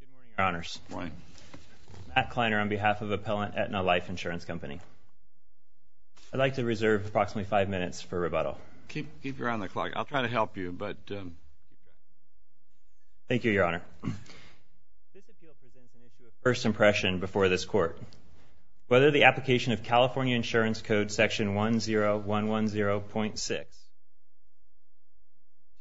Good morning, Your Honors. Good morning. I'm Matt Kleiner on behalf of Appellant Aetna Life Insurance Company. I'd like to reserve approximately five minutes for rebuttal. Keep your eye on the clock. I'll try to help you. Thank you, Your Honor. This appeal presents an issue of first impression before this Court. Whether the application of California Insurance Code Section 10110.6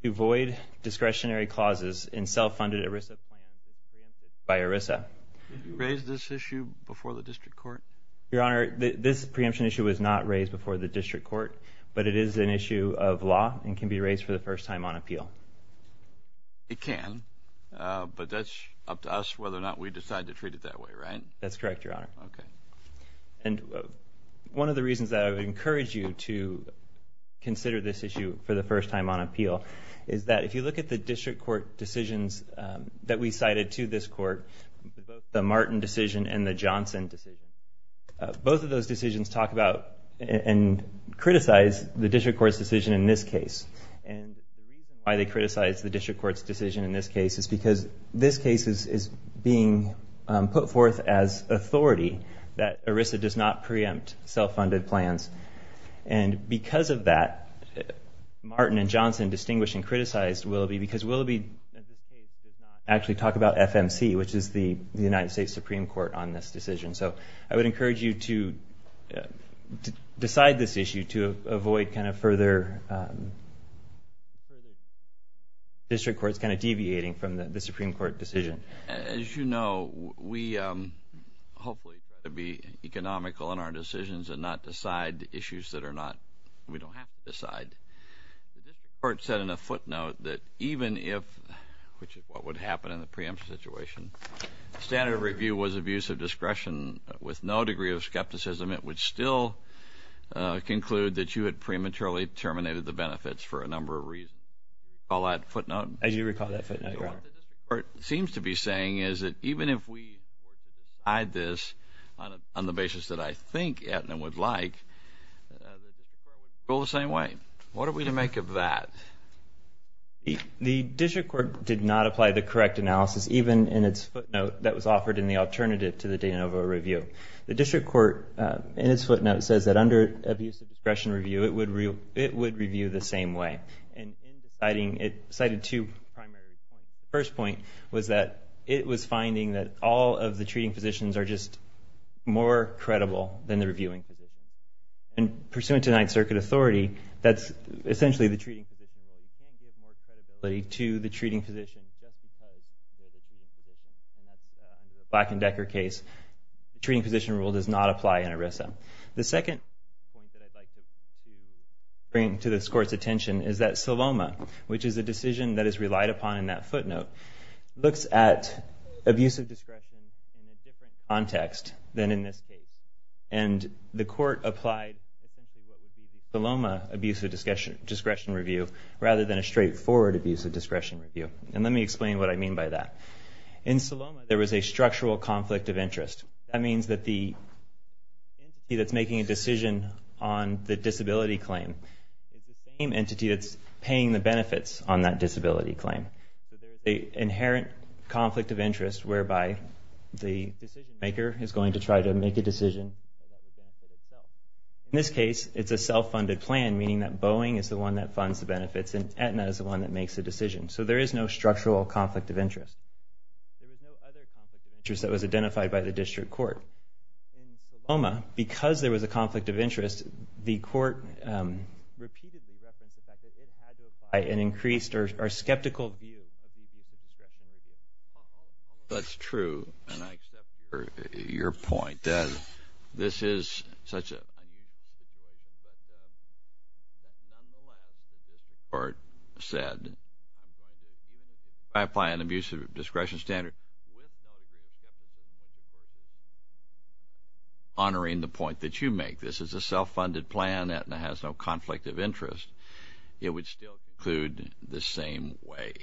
to void discretionary clauses in self-funded ERISA plans is preempted by ERISA. Did you raise this issue before the District Court? Your Honor, this preemption issue was not raised before the District Court, but it is an issue of law and can be raised for the first time on appeal. It can, but that's up to us whether or not we decide to treat it that way, right? That's correct, Your Honor. Okay. And one of the reasons that I would encourage you to consider this issue for the first time on appeal is that if you look at the District Court decisions that we cited to this Court, the Martin decision and the Johnson decision, both of those decisions talk about and criticize the District Court's decision in this case. And the reason why they criticize the District Court's decision in this case is because this case is being put forth as authority that ERISA does not preempt self-funded plans. And because of that, Martin and Johnson distinguished and criticized Willoughby because Willoughby does not actually talk about FMC, which is the United States Supreme Court, on this decision. So I would encourage you to decide this issue to avoid kind of further district courts kind of deviating from the Supreme Court decision. As you know, we hopefully try to be economical in our decisions and not decide issues that we don't have to decide. The District Court said in a footnote that even if, which is what would happen in the preemption situation, standard of review was abuse of discretion with no degree of skepticism, it would still conclude that you had prematurely terminated the benefits for a number of reasons. Do you recall that footnote? As you recall that footnote, Your Honor. What the District Court seems to be saying is that even if we decide this on the basis that I think Aetna would like, the District Court would rule the same way. What are we to make of that? The District Court did not apply the correct analysis, even in its footnote that was offered in the alternative to the de novo review. The District Court, in its footnote, says that under abuse of discretion review, it would review the same way. And it cited two primary points. The first point was that it was finding that all of the treating physicians are just more credible than the reviewing physicians. And pursuant to Ninth Circuit authority, that's essentially the treating physician rule. You can't give more credibility to the treating physician just because they're the treating physician. And that's under the Black and Decker case. The treating physician rule does not apply in ERISA. The second point that I'd like to bring to this Court's attention is that SILOMA, which is a decision that is relied upon in that footnote, looks at abuse of discretion in a different context than in this case. And the Court applied essentially what would be the SILOMA abuse of discretion review rather than a straightforward abuse of discretion review. And let me explain what I mean by that. In SILOMA, there was a structural conflict of interest. That means that the entity that's making a decision on the disability claim is the same entity that's paying the benefits on that disability claim. So there's an inherent conflict of interest whereby the decision maker is going to try to make a decision that would benefit itself. In this case, it's a self-funded plan, meaning that Boeing is the one that funds the benefits and Aetna is the one that makes the decision. So there is no structural conflict of interest. There was no other conflict of interest that was identified by the District Court. Because the Court repeatedly referenced the fact that it had to apply an increased or skeptical view of the abuse of discretion review. That's true, and I accept your point that this is such an unusual situation, but nonetheless, as the Court said, if I apply an abuse of discretion standard with no real skepticism of the Court of Appeals, honoring the point that you make, this is a self-funded plan, Aetna has no conflict of interest, it would still conclude the same way.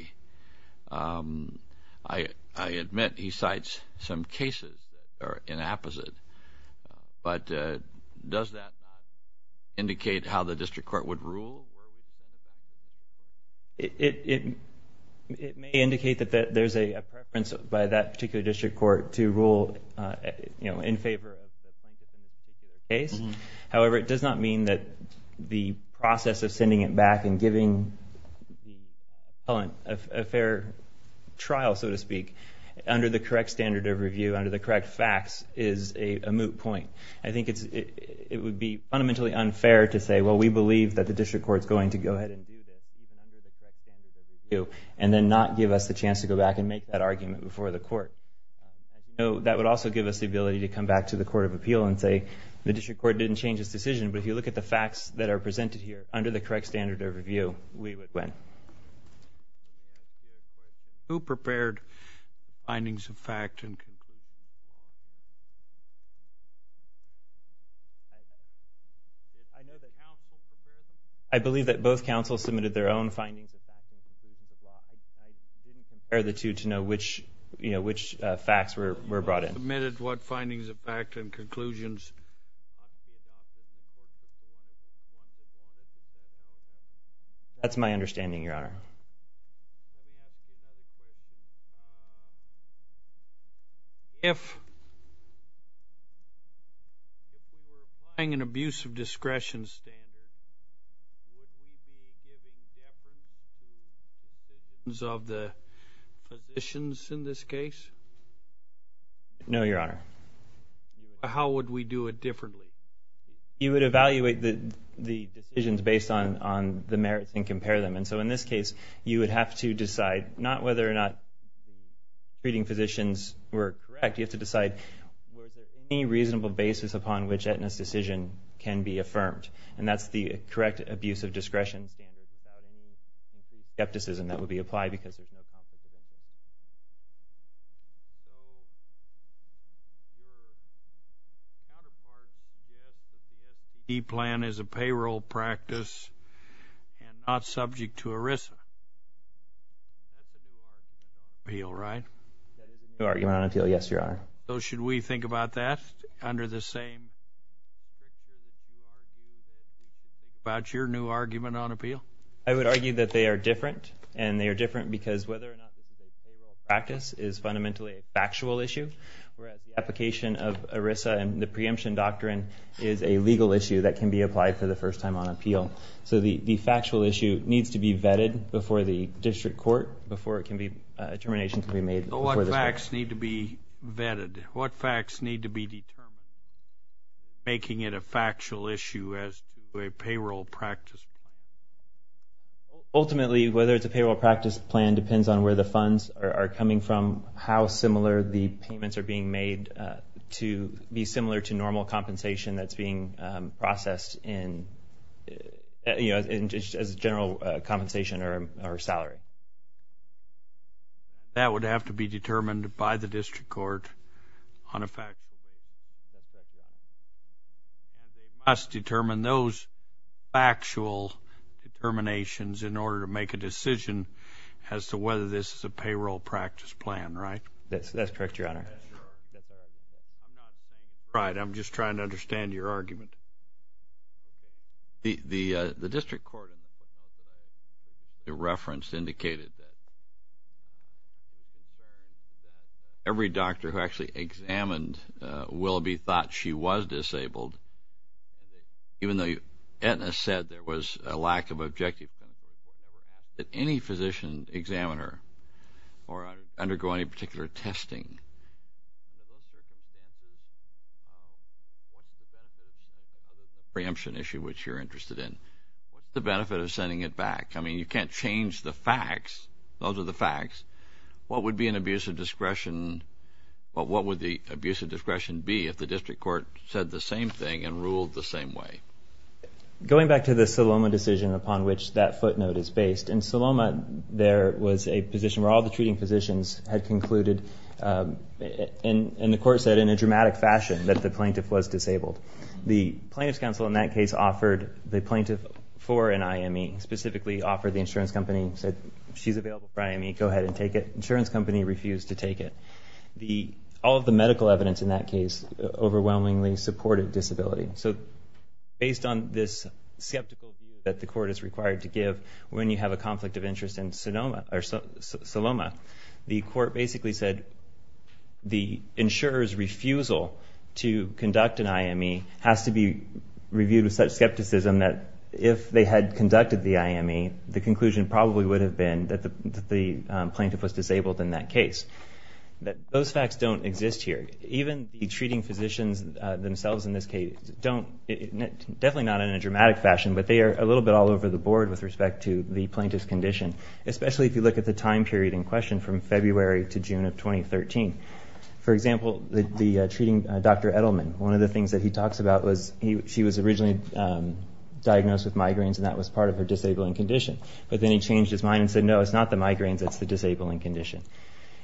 I admit he cites some cases that are inapposite, but does that not indicate how the District Court would rule? It may indicate that there's a preference by that particular District Court to rule in favor of the plaintiff in this particular case. However, it does not mean that the process of sending it back and giving the appellant a fair trial, so to speak, under the correct standard of review, under the correct facts, is a moot point. I think it would be fundamentally unfair to say, well, we believe that the District Court is going to go ahead and do this, even under the correct standard of review, and then not give us the chance to go back and make that argument before the Court. That would also give us the ability to come back to the Court of Appeal and say, the District Court didn't change its decision, but if you look at the facts that are presented here, under the correct standard of review, we would win. Thank you. Who prepared findings of fact and conclusions? I know that counsel prepared them. I believe that both counsels submitted their own findings of fact and conclusions of law. I didn't compare the two to know which facts were brought in. Who submitted what findings of fact and conclusions? That's my understanding, Your Honor. If we were applying an abuse of discretion standard, would we be giving deference to positions of the positions in this case? No, Your Honor. How would we do it differently? You would evaluate the decisions based on the merits and compare them. And so in this case, you would have to decide not whether or not the treating physicians were correct. You have to decide was there any reasonable basis upon which Aetna's decision can be affirmed. And that's the correct abuse of discretion standard without any skepticism that would be applied because there's no conflict of interest. E-Plan is a payroll practice and not subject to ERISA. That's a New York appeal, right? That is a New York appeal, yes, Your Honor. So should we think about that under the same criteria about your new argument on appeal? I would argue that they are different. And they are different because whether or not this is a payroll practice is fundamentally a factual issue, whereas the application of ERISA and the preemption doctrine is a legal issue that can be applied for the first time on appeal. So the factual issue needs to be vetted before the district court before a determination can be made. So what facts need to be vetted? What facts need to be determined making it a factual issue as to a payroll practice? Ultimately, whether it's a payroll practice plan depends on where the funds are coming from, how similar the payments are being made to be similar to normal compensation that's being processed as general compensation or salary. That would have to be determined by the district court on a factual basis. That's right. And they must determine those factual determinations in order to make a decision as to whether this is a payroll practice plan, right? That's correct, Your Honor. I'm not saying you're right. I'm just trying to understand your argument. The district court reference indicated that every doctor who actually examined Willoughby thought she was disabled, even though Aetna said there was a lack of objective, that any physician examined her or undergo any particular testing, what's the benefit of sending it back other than the preemption issue which you're interested in? What's the benefit of sending it back? I mean, you can't change the facts. Those are the facts. What would be an abuse of discretion? What would the abuse of discretion be if the district court said the same thing and ruled the same way? Going back to the Saloma decision upon which that footnote is based, in Saloma there was a position where all the treating physicians had concluded, and the court said in a dramatic fashion, that the plaintiff was disabled. The plaintiff's counsel in that case offered the plaintiff for an IME, specifically offered the insurance company, said she's available for IME, go ahead and take it. Insurance company refused to take it. All of the medical evidence in that case overwhelmingly supported disability. So based on this skeptical view that the court is required to give when you have a conflict of interest in Saloma, the court basically said the insurer's refusal to conduct an IME has to be reviewed with such skepticism that if they had conducted the IME, the conclusion probably would have been that the plaintiff was disabled in that case. Those facts don't exist here. Even the treating physicians themselves in this case, definitely not in a dramatic fashion, but they are a little bit all over the board with respect to the plaintiff's condition, especially if you look at the time period in question from February to June of 2013. For example, the treating Dr. Edelman, one of the things that he talks about was she was originally diagnosed with migraines, and that was part of her disabling condition. But then he changed his mind and said, no, it's not the migraines, it's the disabling condition.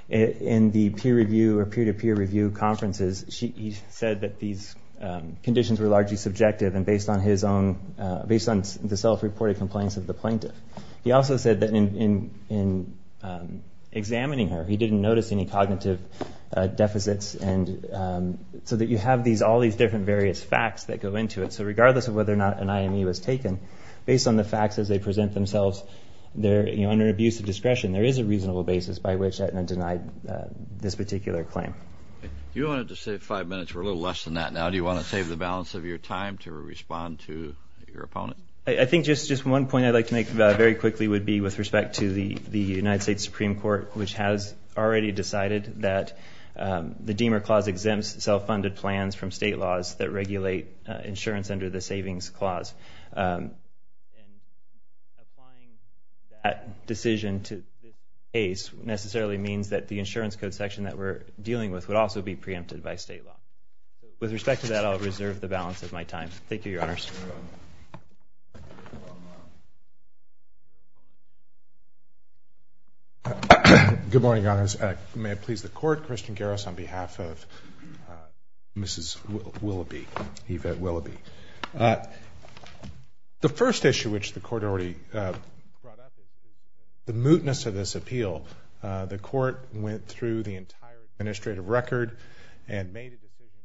In the peer review or peer-to-peer review conferences, he said that these conditions were largely subjective and based on the self-reported complaints of the plaintiff. He also said that in examining her, he didn't notice any cognitive deficits, so that you have all these different various facts that go into it. So regardless of whether or not an IME was taken, based on the facts as they present themselves, under abuse of discretion, there is a reasonable basis by which Edelman denied this particular claim. You wanted to save five minutes. We're a little less than that now. Do you want to save the balance of your time to respond to your opponent? I think just one point I'd like to make very quickly would be with respect to the United States Supreme Court, which has already decided that the Deamer Clause exempts self-funded plans from state laws that regulate insurance under the Savings Clause. Applying that decision to this case necessarily means that the insurance code section that we're dealing with would also be preempted by state law. With respect to that, I'll reserve the balance of my time. Good morning, Your Honors. May it please the Court, Christian Garris on behalf of Mrs. Willoughby, Eva Willoughby. The first issue which the Court already brought up is the mootness of this appeal. The Court went through the entire administrative record and made a decision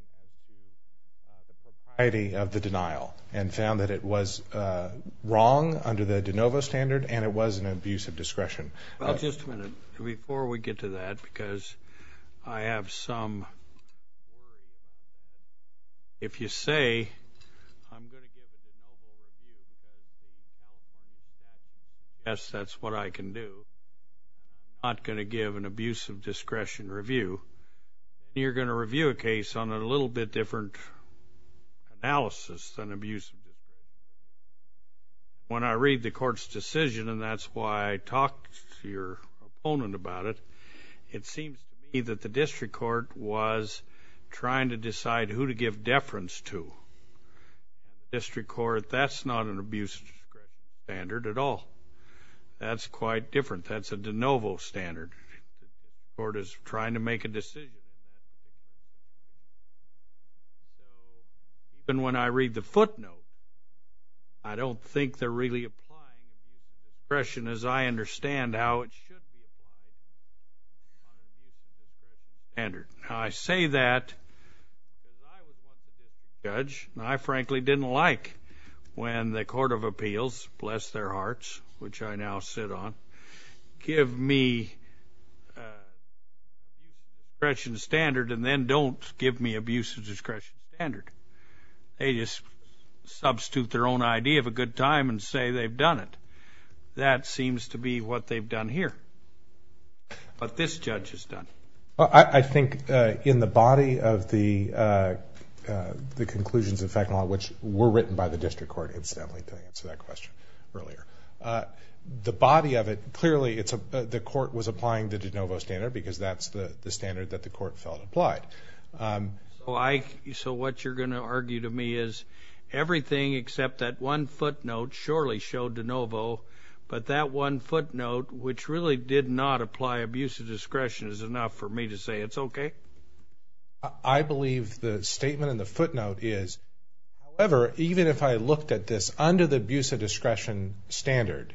on the propriety of the denial and found that it was wrong under the de novo standard and it was an abuse of discretion. Just a minute. Before we get to that, because I have some worries. If you say I'm going to give a de novo review, I guess that's what I can do. I'm not going to give an abuse of discretion review. You're going to review a case on a little bit different analysis than abuse of discretion. When I read the Court's decision, and that's why I talked to your opponent about it, it seems to me that the District Court was trying to decide who to give deference to. The District Court, that's not an abuse of discretion standard at all. That's quite different. That's a de novo standard. The Court is trying to make a decision. So even when I read the footnote, I don't think they're really applying abuse of discretion as I understand how it should be applied on an abuse of discretion standard. I say that because I was once a district judge, and I frankly didn't like when the Court of Appeals, bless their hearts, which I now sit on, give me abuse of discretion standard and then don't give me abuse of discretion standard. They just substitute their own idea of a good time and say they've done it. That seems to be what they've done here, what this judge has done. I think in the body of the conclusions, in fact, which were written by the District Court, incidentally, to answer that question earlier, the body of it, clearly the court was applying the de novo standard because that's the standard that the court felt applied. So what you're going to argue to me is everything except that one footnote surely showed de novo, but that one footnote which really did not apply abuse of discretion is enough for me to say it's okay? I believe the statement in the footnote is, however, even if I looked at this under the abuse of discretion standard,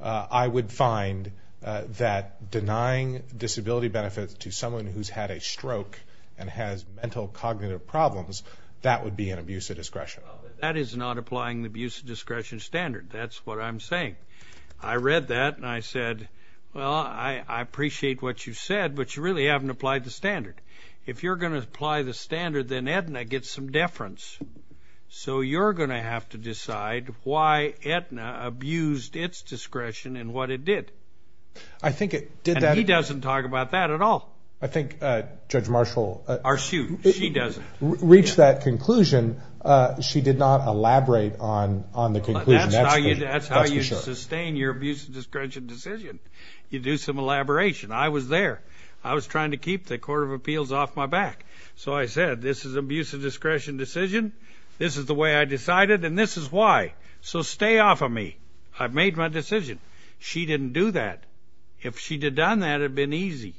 I would find that denying disability benefits to someone who's had a stroke and has mental cognitive problems, that would be an abuse of discretion. That is not applying the abuse of discretion standard. That's what I'm saying. I read that and I said, well, I appreciate what you said, but you really haven't applied the standard. If you're going to apply the standard, then Aetna gets some deference. So you're going to have to decide why Aetna abused its discretion and what it did. And he doesn't talk about that at all. I think Judge Marshall reached that conclusion. She did not elaborate on the conclusion. That's how you sustain your abuse of discretion decision. You do some elaboration. I was there. I was trying to keep the Court of Appeals off my back. So I said, this is abuse of discretion decision, this is the way I decided, and this is why. So stay off of me. I've made my decision. She didn't do that. If she had done that, it would have been easy.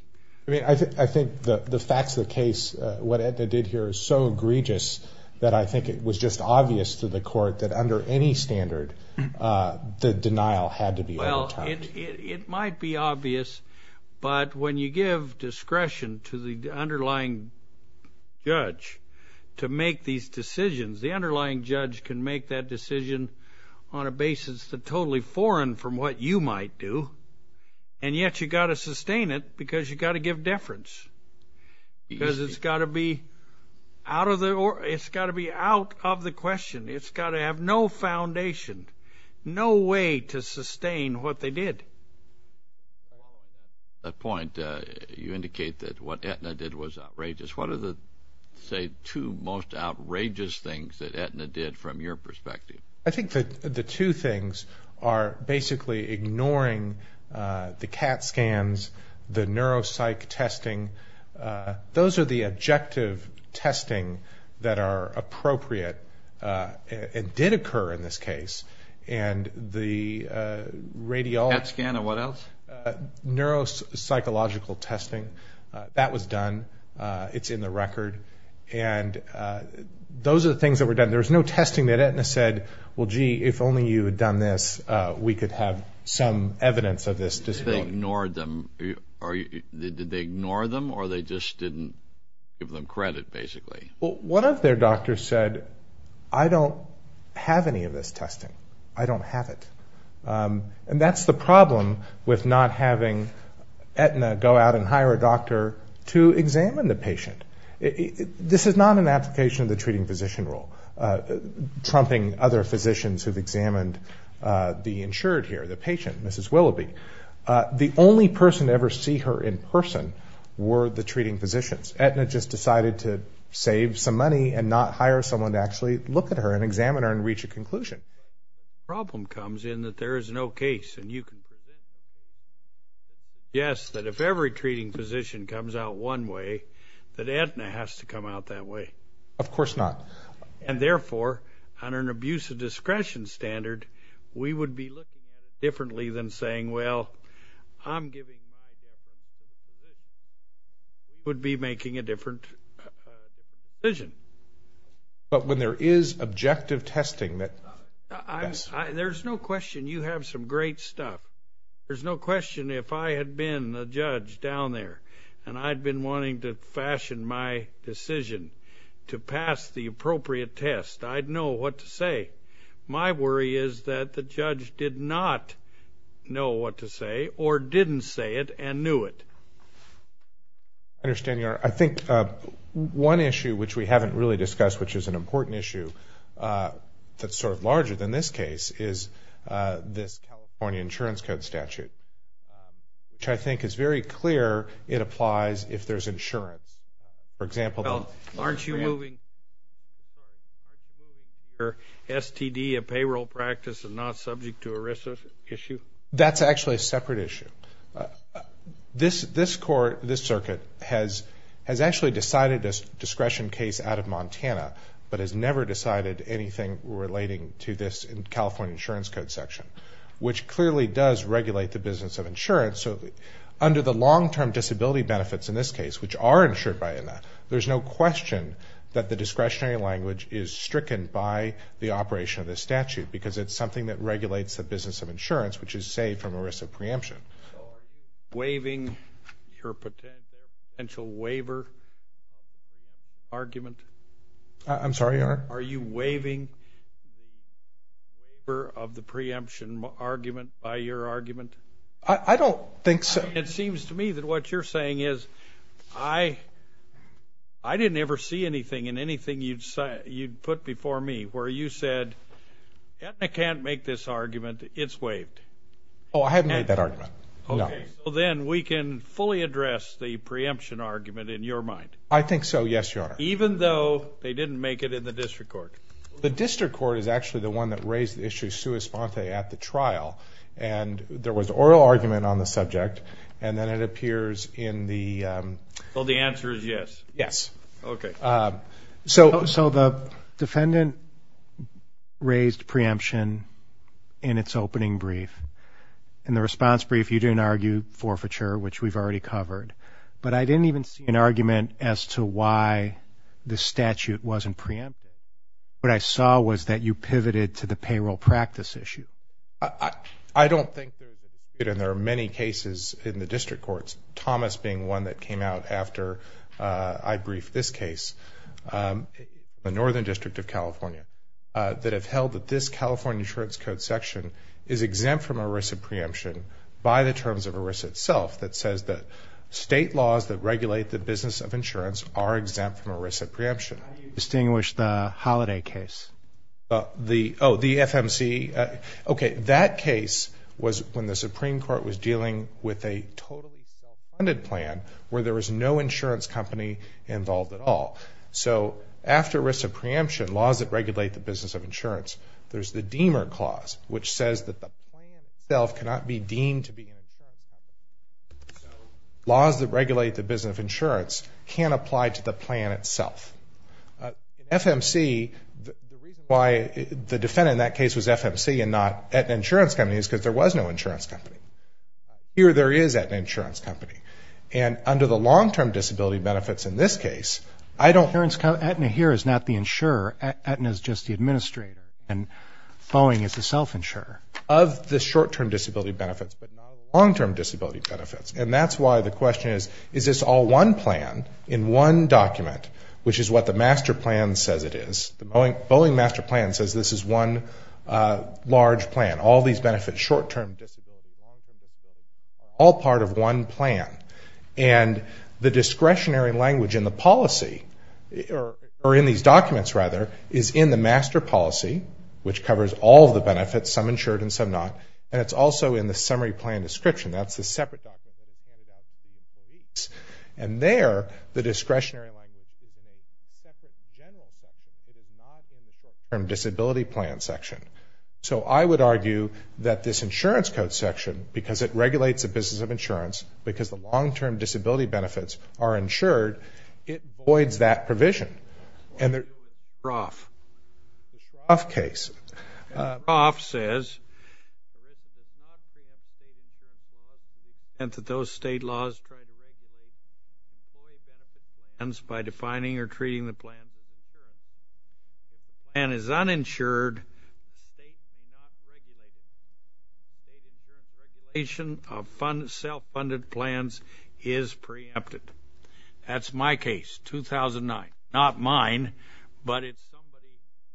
I think the facts of the case, what Aetna did here is so egregious that I think it was just obvious to the court that under any standard, the denial had to be overtimed. Well, it might be obvious, but when you give discretion to the underlying judge to make these decisions, the underlying judge can make that decision on a basis that's totally foreign from what you might do, and yet you've got to sustain it because you've got to give deference. Because it's got to be out of the question. It's got to have no foundation, no way to sustain what they did. At that point, you indicate that what Aetna did was outrageous. What are the, say, two most outrageous things that Aetna did from your perspective? I think the two things are basically ignoring the CAT scans, the neuropsych testing. Those are the objective testing that are appropriate and did occur in this case. And the radiology. CAT scan and what else? Neuropsychological testing. That was done. It's in the record. And those are the things that were done. There was no testing that Aetna said, well, gee, if only you had done this, we could have some evidence of this disability. Did they ignore them, or they just didn't give them credit, basically? Well, one of their doctors said, I don't have any of this testing. I don't have it. And that's the problem with not having Aetna go out and hire a doctor to examine the patient. This is not an application of the treating physician role, trumping other physicians who have examined the insured here, the patient, Mrs. Willoughby. The only person to ever see her in person were the treating physicians. Aetna just decided to save some money and not hire someone to actually look at her and examine her and reach a conclusion. The problem comes in that there is no case, and you can present it. Yes, that if every treating physician comes out one way, that Aetna has to come out that way. Of course not. And, therefore, under an abuse of discretion standard, we would be looking at it differently than saying, well, I'm giving my definition. We would be making a different decision. But when there is objective testing that does. There's no question. You have some great stuff. There's no question. If I had been a judge down there and I'd been wanting to fashion my decision to pass the appropriate test, I'd know what to say. My worry is that the judge did not know what to say or didn't say it and knew it. I think one issue which we haven't really discussed, which is an important issue that's sort of larger than this case, is this California Insurance Code statute, which I think is very clear it applies if there's insurance. For example. Well, aren't you moving your STD, a payroll practice, and not subject to ERISA issue? That's actually a separate issue. This court, this circuit, has actually decided a discretion case out of Montana, but has never decided anything relating to this California Insurance Code section, which clearly does regulate the business of insurance. So under the long-term disability benefits in this case, which are insured by ENA, there's no question that the discretionary language is stricken by the operation of this statute because it's something that regulates the business of insurance, which is saved from ERISA preemption. So are you waiving your potential waiver argument? I'm sorry, Your Honor? Are you waiving the waiver of the preemption argument by your argument? I don't think so. It seems to me that what you're saying is I didn't ever see anything in anything you'd put before me where you said ENA can't make this argument. It's waived. Oh, I haven't made that argument. Okay. So then we can fully address the preemption argument in your mind. I think so, yes, Your Honor. Even though they didn't make it in the district court? The district court is actually the one that raised the issue sui sponte at the trial, and there was oral argument on the subject, and then it appears in the... Well, the answer is yes. Yes. Okay. So the defendant raised preemption in its opening brief. In the response brief, you didn't argue forfeiture, which we've already covered. But I didn't even see an argument as to why the statute wasn't preempted. What I saw was that you pivoted to the payroll practice issue. I don't think there's a dispute, and there are many cases in the district courts, Thomas being one that came out after I briefed this case, the Northern District of California, that have held that this California Insurance Code section is exempt from a risk of preemption by the terms of a risk itself that says that state laws that regulate the business of insurance are exempt from a risk of preemption. How do you distinguish the Holiday case? Oh, the FMC? Okay. That case was when the Supreme Court was dealing with a totally self-funded plan where there was no insurance company involved at all. So after risk of preemption, laws that regulate the business of insurance, there's the Deamer Clause, which says that the plan itself cannot be deemed to be an insurance company. So laws that regulate the business of insurance can't apply to the plan itself. In FMC, the reason why the defendant in that case was FMC and not at an insurance company is because there was no insurance company. Here, there is at an insurance company. And under the long-term disability benefits in this case, I don't ---- Insurance company, Aetna here is not the insurer. Aetna is just the administrator. And Foeing is the self-insurer. Of the short-term disability benefits, but not the long-term disability benefits. And that's why the question is, is this all one plan in one document, which is what the master plan says it is. The Boeing master plan says this is one large plan. All these benefits, short-term disability, long-term disability, are all part of one plan. And the discretionary language in the policy, or in these documents, rather, is in the master policy, which covers all the benefits, some insured and some not. And it's also in the summary plan description. That's the separate document that was handed out to the employees. And there, the discretionary language is in a separate general section. It is not in the short-term disability plan section. So I would argue that this insurance code section, because it regulates the business of insurance, because the long-term disability benefits are insured, it voids that provision. The Shroff case. The Shroff says that those state laws try to regulate employee benefits plans by defining or treating the plans as insured. If the plan is uninsured, the state may not regulate it. State insurance regulation of self-funded plans is preempted. That's my case, 2009. Not mine, but it's somebody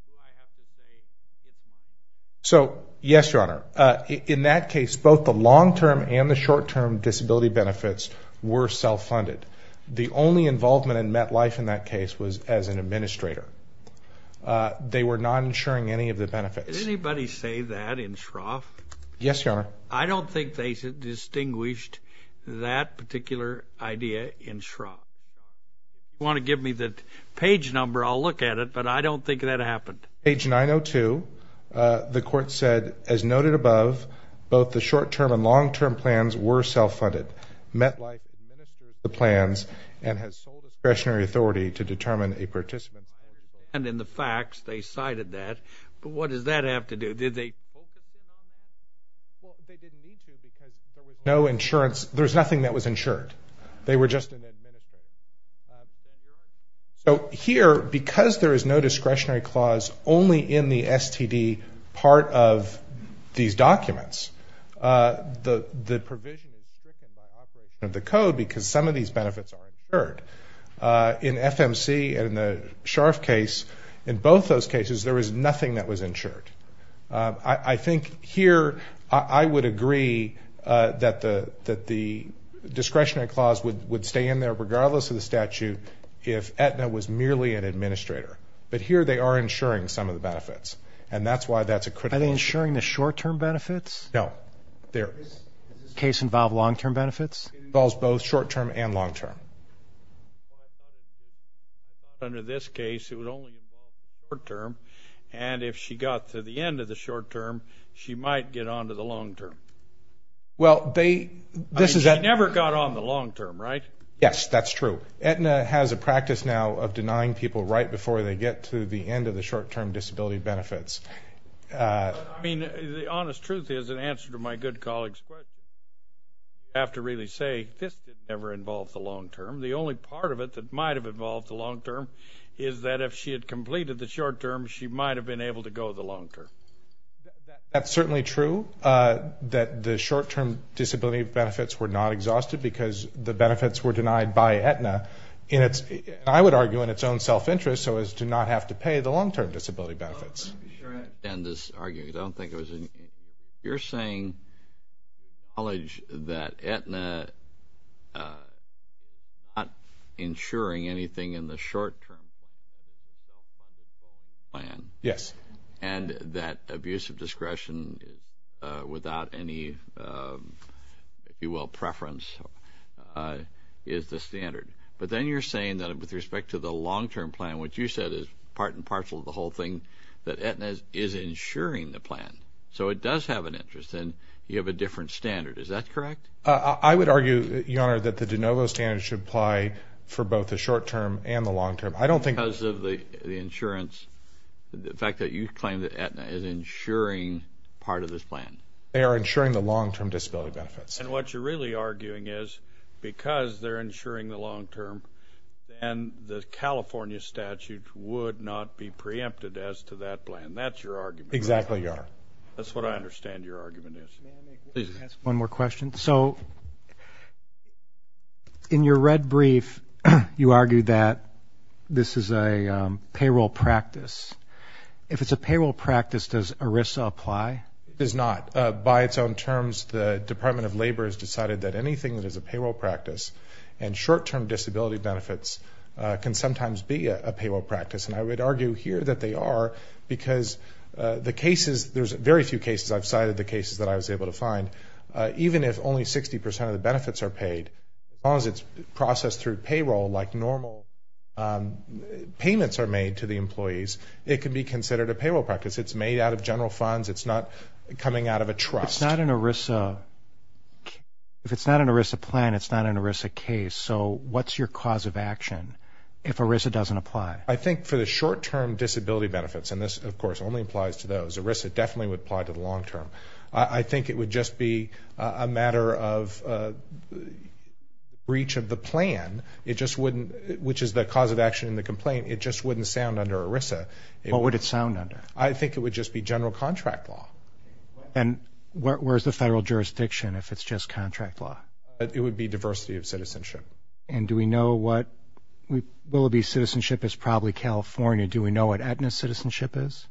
who I have to say is not. So, yes, Your Honor. In that case, both the long-term and the short-term disability benefits were self-funded. The only involvement in MetLife in that case was as an administrator. They were not insuring any of the benefits. Yes, Your Honor. I don't think they distinguished that particular idea in Shroff. If you want to give me the page number, I'll look at it, but I don't think that happened. Page 902. The court said, as noted above, both the short-term and long-term plans were self-funded. MetLife administers the plans and has sole discretionary authority to determine a participant's. And in the facts, they cited that. But what does that have to do? Did they focus in on that? Well, they didn't need to because there was no insurance. There was nothing that was insured. They were just an administrator. So here, because there is no discretionary clause only in the STD part of these documents, the provision is stricken by operation of the code because some of these benefits are insured. In FMC and the Shroff case, in both those cases, there was nothing that was insured. I think here I would agree that the discretionary clause would stay in there, regardless of the statute, if Aetna was merely an administrator. But here they are insuring some of the benefits, and that's why that's a critical issue. Are they insuring the short-term benefits? No. Does this case involve long-term benefits? It involves both short-term and long-term. Well, I thought under this case it would only involve the short-term, and if she got to the end of the short-term, she might get on to the long-term. She never got on the long-term, right? Yes, that's true. Aetna has a practice now of denying people right before they get to the end of the short-term disability benefits. The honest truth is, in answer to my good colleague's question, I have to really say this never involved the long-term. The only part of it that might have involved the long-term is that if she had completed the short-term, she might have been able to go the long-term. That's certainly true, that the short-term disability benefits were not exhausted because the benefits were denied by Aetna, and I would argue in its own self-interest, so as to not have to pay the long-term disability benefits. I'm not sure I understand this argument. You're saying that Aetna, not ensuring anything in the short-term, and that abuse of discretion without any, if you will, preference, is the standard. But then you're saying that with respect to the long-term plan, what you said is part and parcel of the whole thing, that Aetna is ensuring the plan, so it does have an interest, and you have a different standard. Is that correct? I would argue, Your Honor, that the de novo standard should apply for both the short-term and the long-term. I don't think... Because of the insurance, the fact that you claim that Aetna is ensuring part of this plan. They are ensuring the long-term disability benefits. And what you're really arguing is because they're ensuring the long-term, then the California statute would not be preempted as to that plan. That's your argument. Exactly, Your Honor. That's what I understand your argument is. May I ask one more question? So in your red brief, you argue that this is a payroll practice. If it's a payroll practice, does ERISA apply? It does not. By its own terms, the Department of Labor has decided that anything that is a payroll practice and short-term disability benefits can sometimes be a payroll practice. And I would argue here that they are because the cases, there's very few cases, I've cited the cases that I was able to find, even if only 60% of the benefits are paid, as long as it's processed through payroll like normal, payments are made to the employees, it can be considered a payroll practice. It's made out of general funds. It's not coming out of a trust. If it's not an ERISA plan, it's not an ERISA case. So what's your cause of action if ERISA doesn't apply? I think for the short-term disability benefits, and this, of course, only applies to those, ERISA definitely would apply to the long-term. I think it would just be a matter of breach of the plan, which is the cause of action in the complaint. It just wouldn't sound under ERISA. What would it sound under? I think it would just be general contract law. And where's the federal jurisdiction if it's just contract law? It would be diversity of citizenship. And do we know what Willoughby's citizenship is? Probably California. Do we know what Aetna's citizenship is?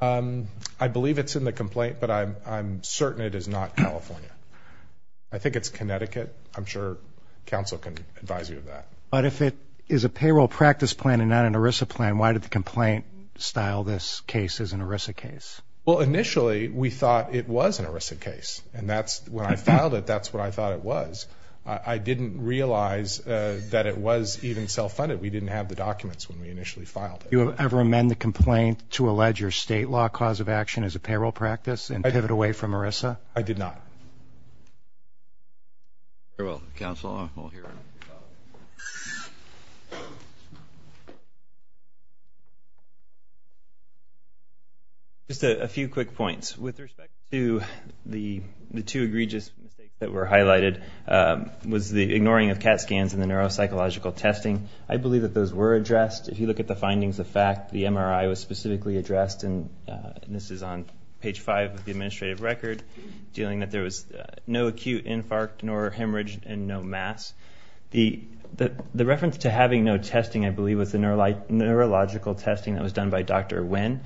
I believe it's in the complaint, but I'm certain it is not California. I think it's Connecticut. I'm sure counsel can advise you of that. But if it is a payroll practice plan and not an ERISA plan, why did the complaint style this case as an ERISA case? Well, initially we thought it was an ERISA case. And when I filed it, that's what I thought it was. I didn't realize that it was even self-funded. We didn't have the documents when we initially filed it. Do you ever amend the complaint to allege your state law cause of action as a payroll practice and pivot away from ERISA? I did not. Very well. Counsel, we'll hear from you. Just a few quick points. With respect to the two egregious mistakes that were highlighted was the ignoring of CAT scans and the neuropsychological testing. I believe that those were addressed. If you look at the findings of fact, the MRI was specifically addressed, and this is on page five of the administrative record, dealing that there was no acute infarct nor hemorrhage and no mass. The reference to having no testing, I believe, was the neurological testing that was done by Dr. Wynn.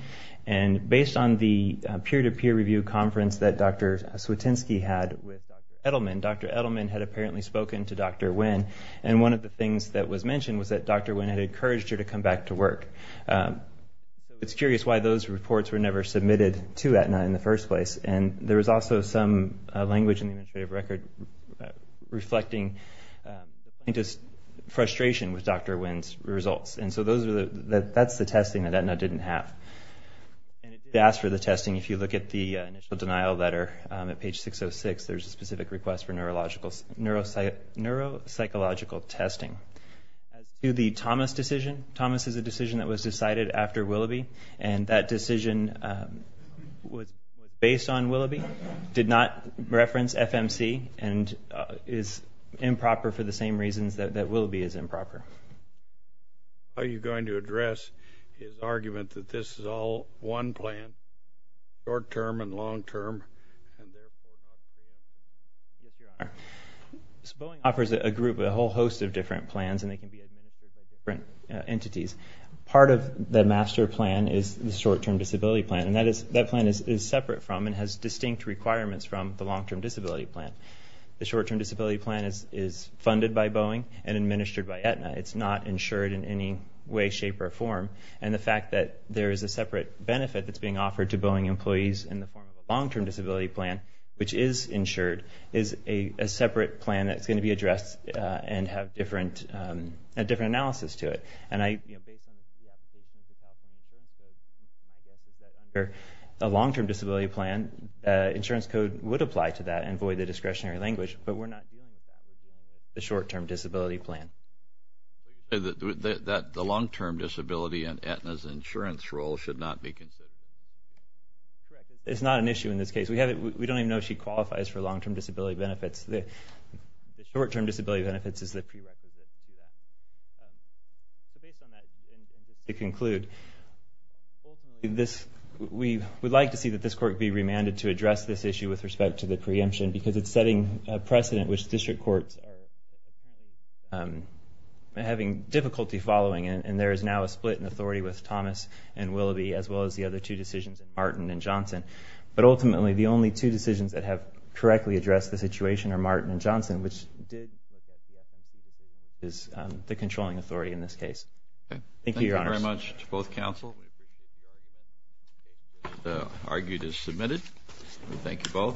And based on the peer-to-peer review conference that Dr. Swietynski had with Dr. Edelman, Dr. Edelman had apparently spoken to Dr. Wynn. And one of the things that was mentioned was that Dr. Wynn had encouraged her to come back to work. It's curious why those reports were never submitted to Aetna in the first place. And there was also some language in the administrative record reflecting frustration with Dr. Wynn's results. And so that's the testing that Aetna didn't have. And it did ask for the testing. If you look at the initial denial letter at page 606, there's a specific request for neuropsychological testing. As to the Thomas decision, Thomas is a decision that was decided after Willoughby, and that decision was based on Willoughby, did not reference FMC, and is improper for the same reasons that Willoughby is improper. How are you going to address his argument that this is all one plan, short-term and long-term? Boeing offers a group, a whole host of different plans, and they can be administered by different entities. Part of the master plan is the short-term disability plan, and that plan is separate from and has distinct requirements from the long-term disability plan. The short-term disability plan is funded by Boeing and administered by Aetna. It's not insured in any way, shape, or form. And the fact that there is a separate benefit that's being offered to Boeing employees in the form of a long-term disability plan, which is insured, is a separate plan that's going to be addressed and have a different analysis to it. And based on the application of the California Insurance Code, my guess is that under a long-term disability plan, insurance code would apply to that and void the discretionary language, but we're not dealing with that. We're dealing with the short-term disability plan. The long-term disability and Aetna's insurance role should not be considered. Correct. It's not an issue in this case. We don't even know if she qualifies for long-term disability benefits. The short-term disability benefits is the prerequisite to that. So based on that, and just to conclude, we would like to see that this court be remanded to address this issue with respect to the preemption because it's setting a precedent which district courts are having difficulty following, and there is now a split in authority with Thomas and Willoughby as well as the other two decisions, Martin and Johnson. But ultimately, the only two decisions that have correctly addressed the situation are Martin and Johnson, which is the controlling authority in this case. Thank you, Your Honors. Thank you very much to both counsel. The argument is submitted. Thank you both.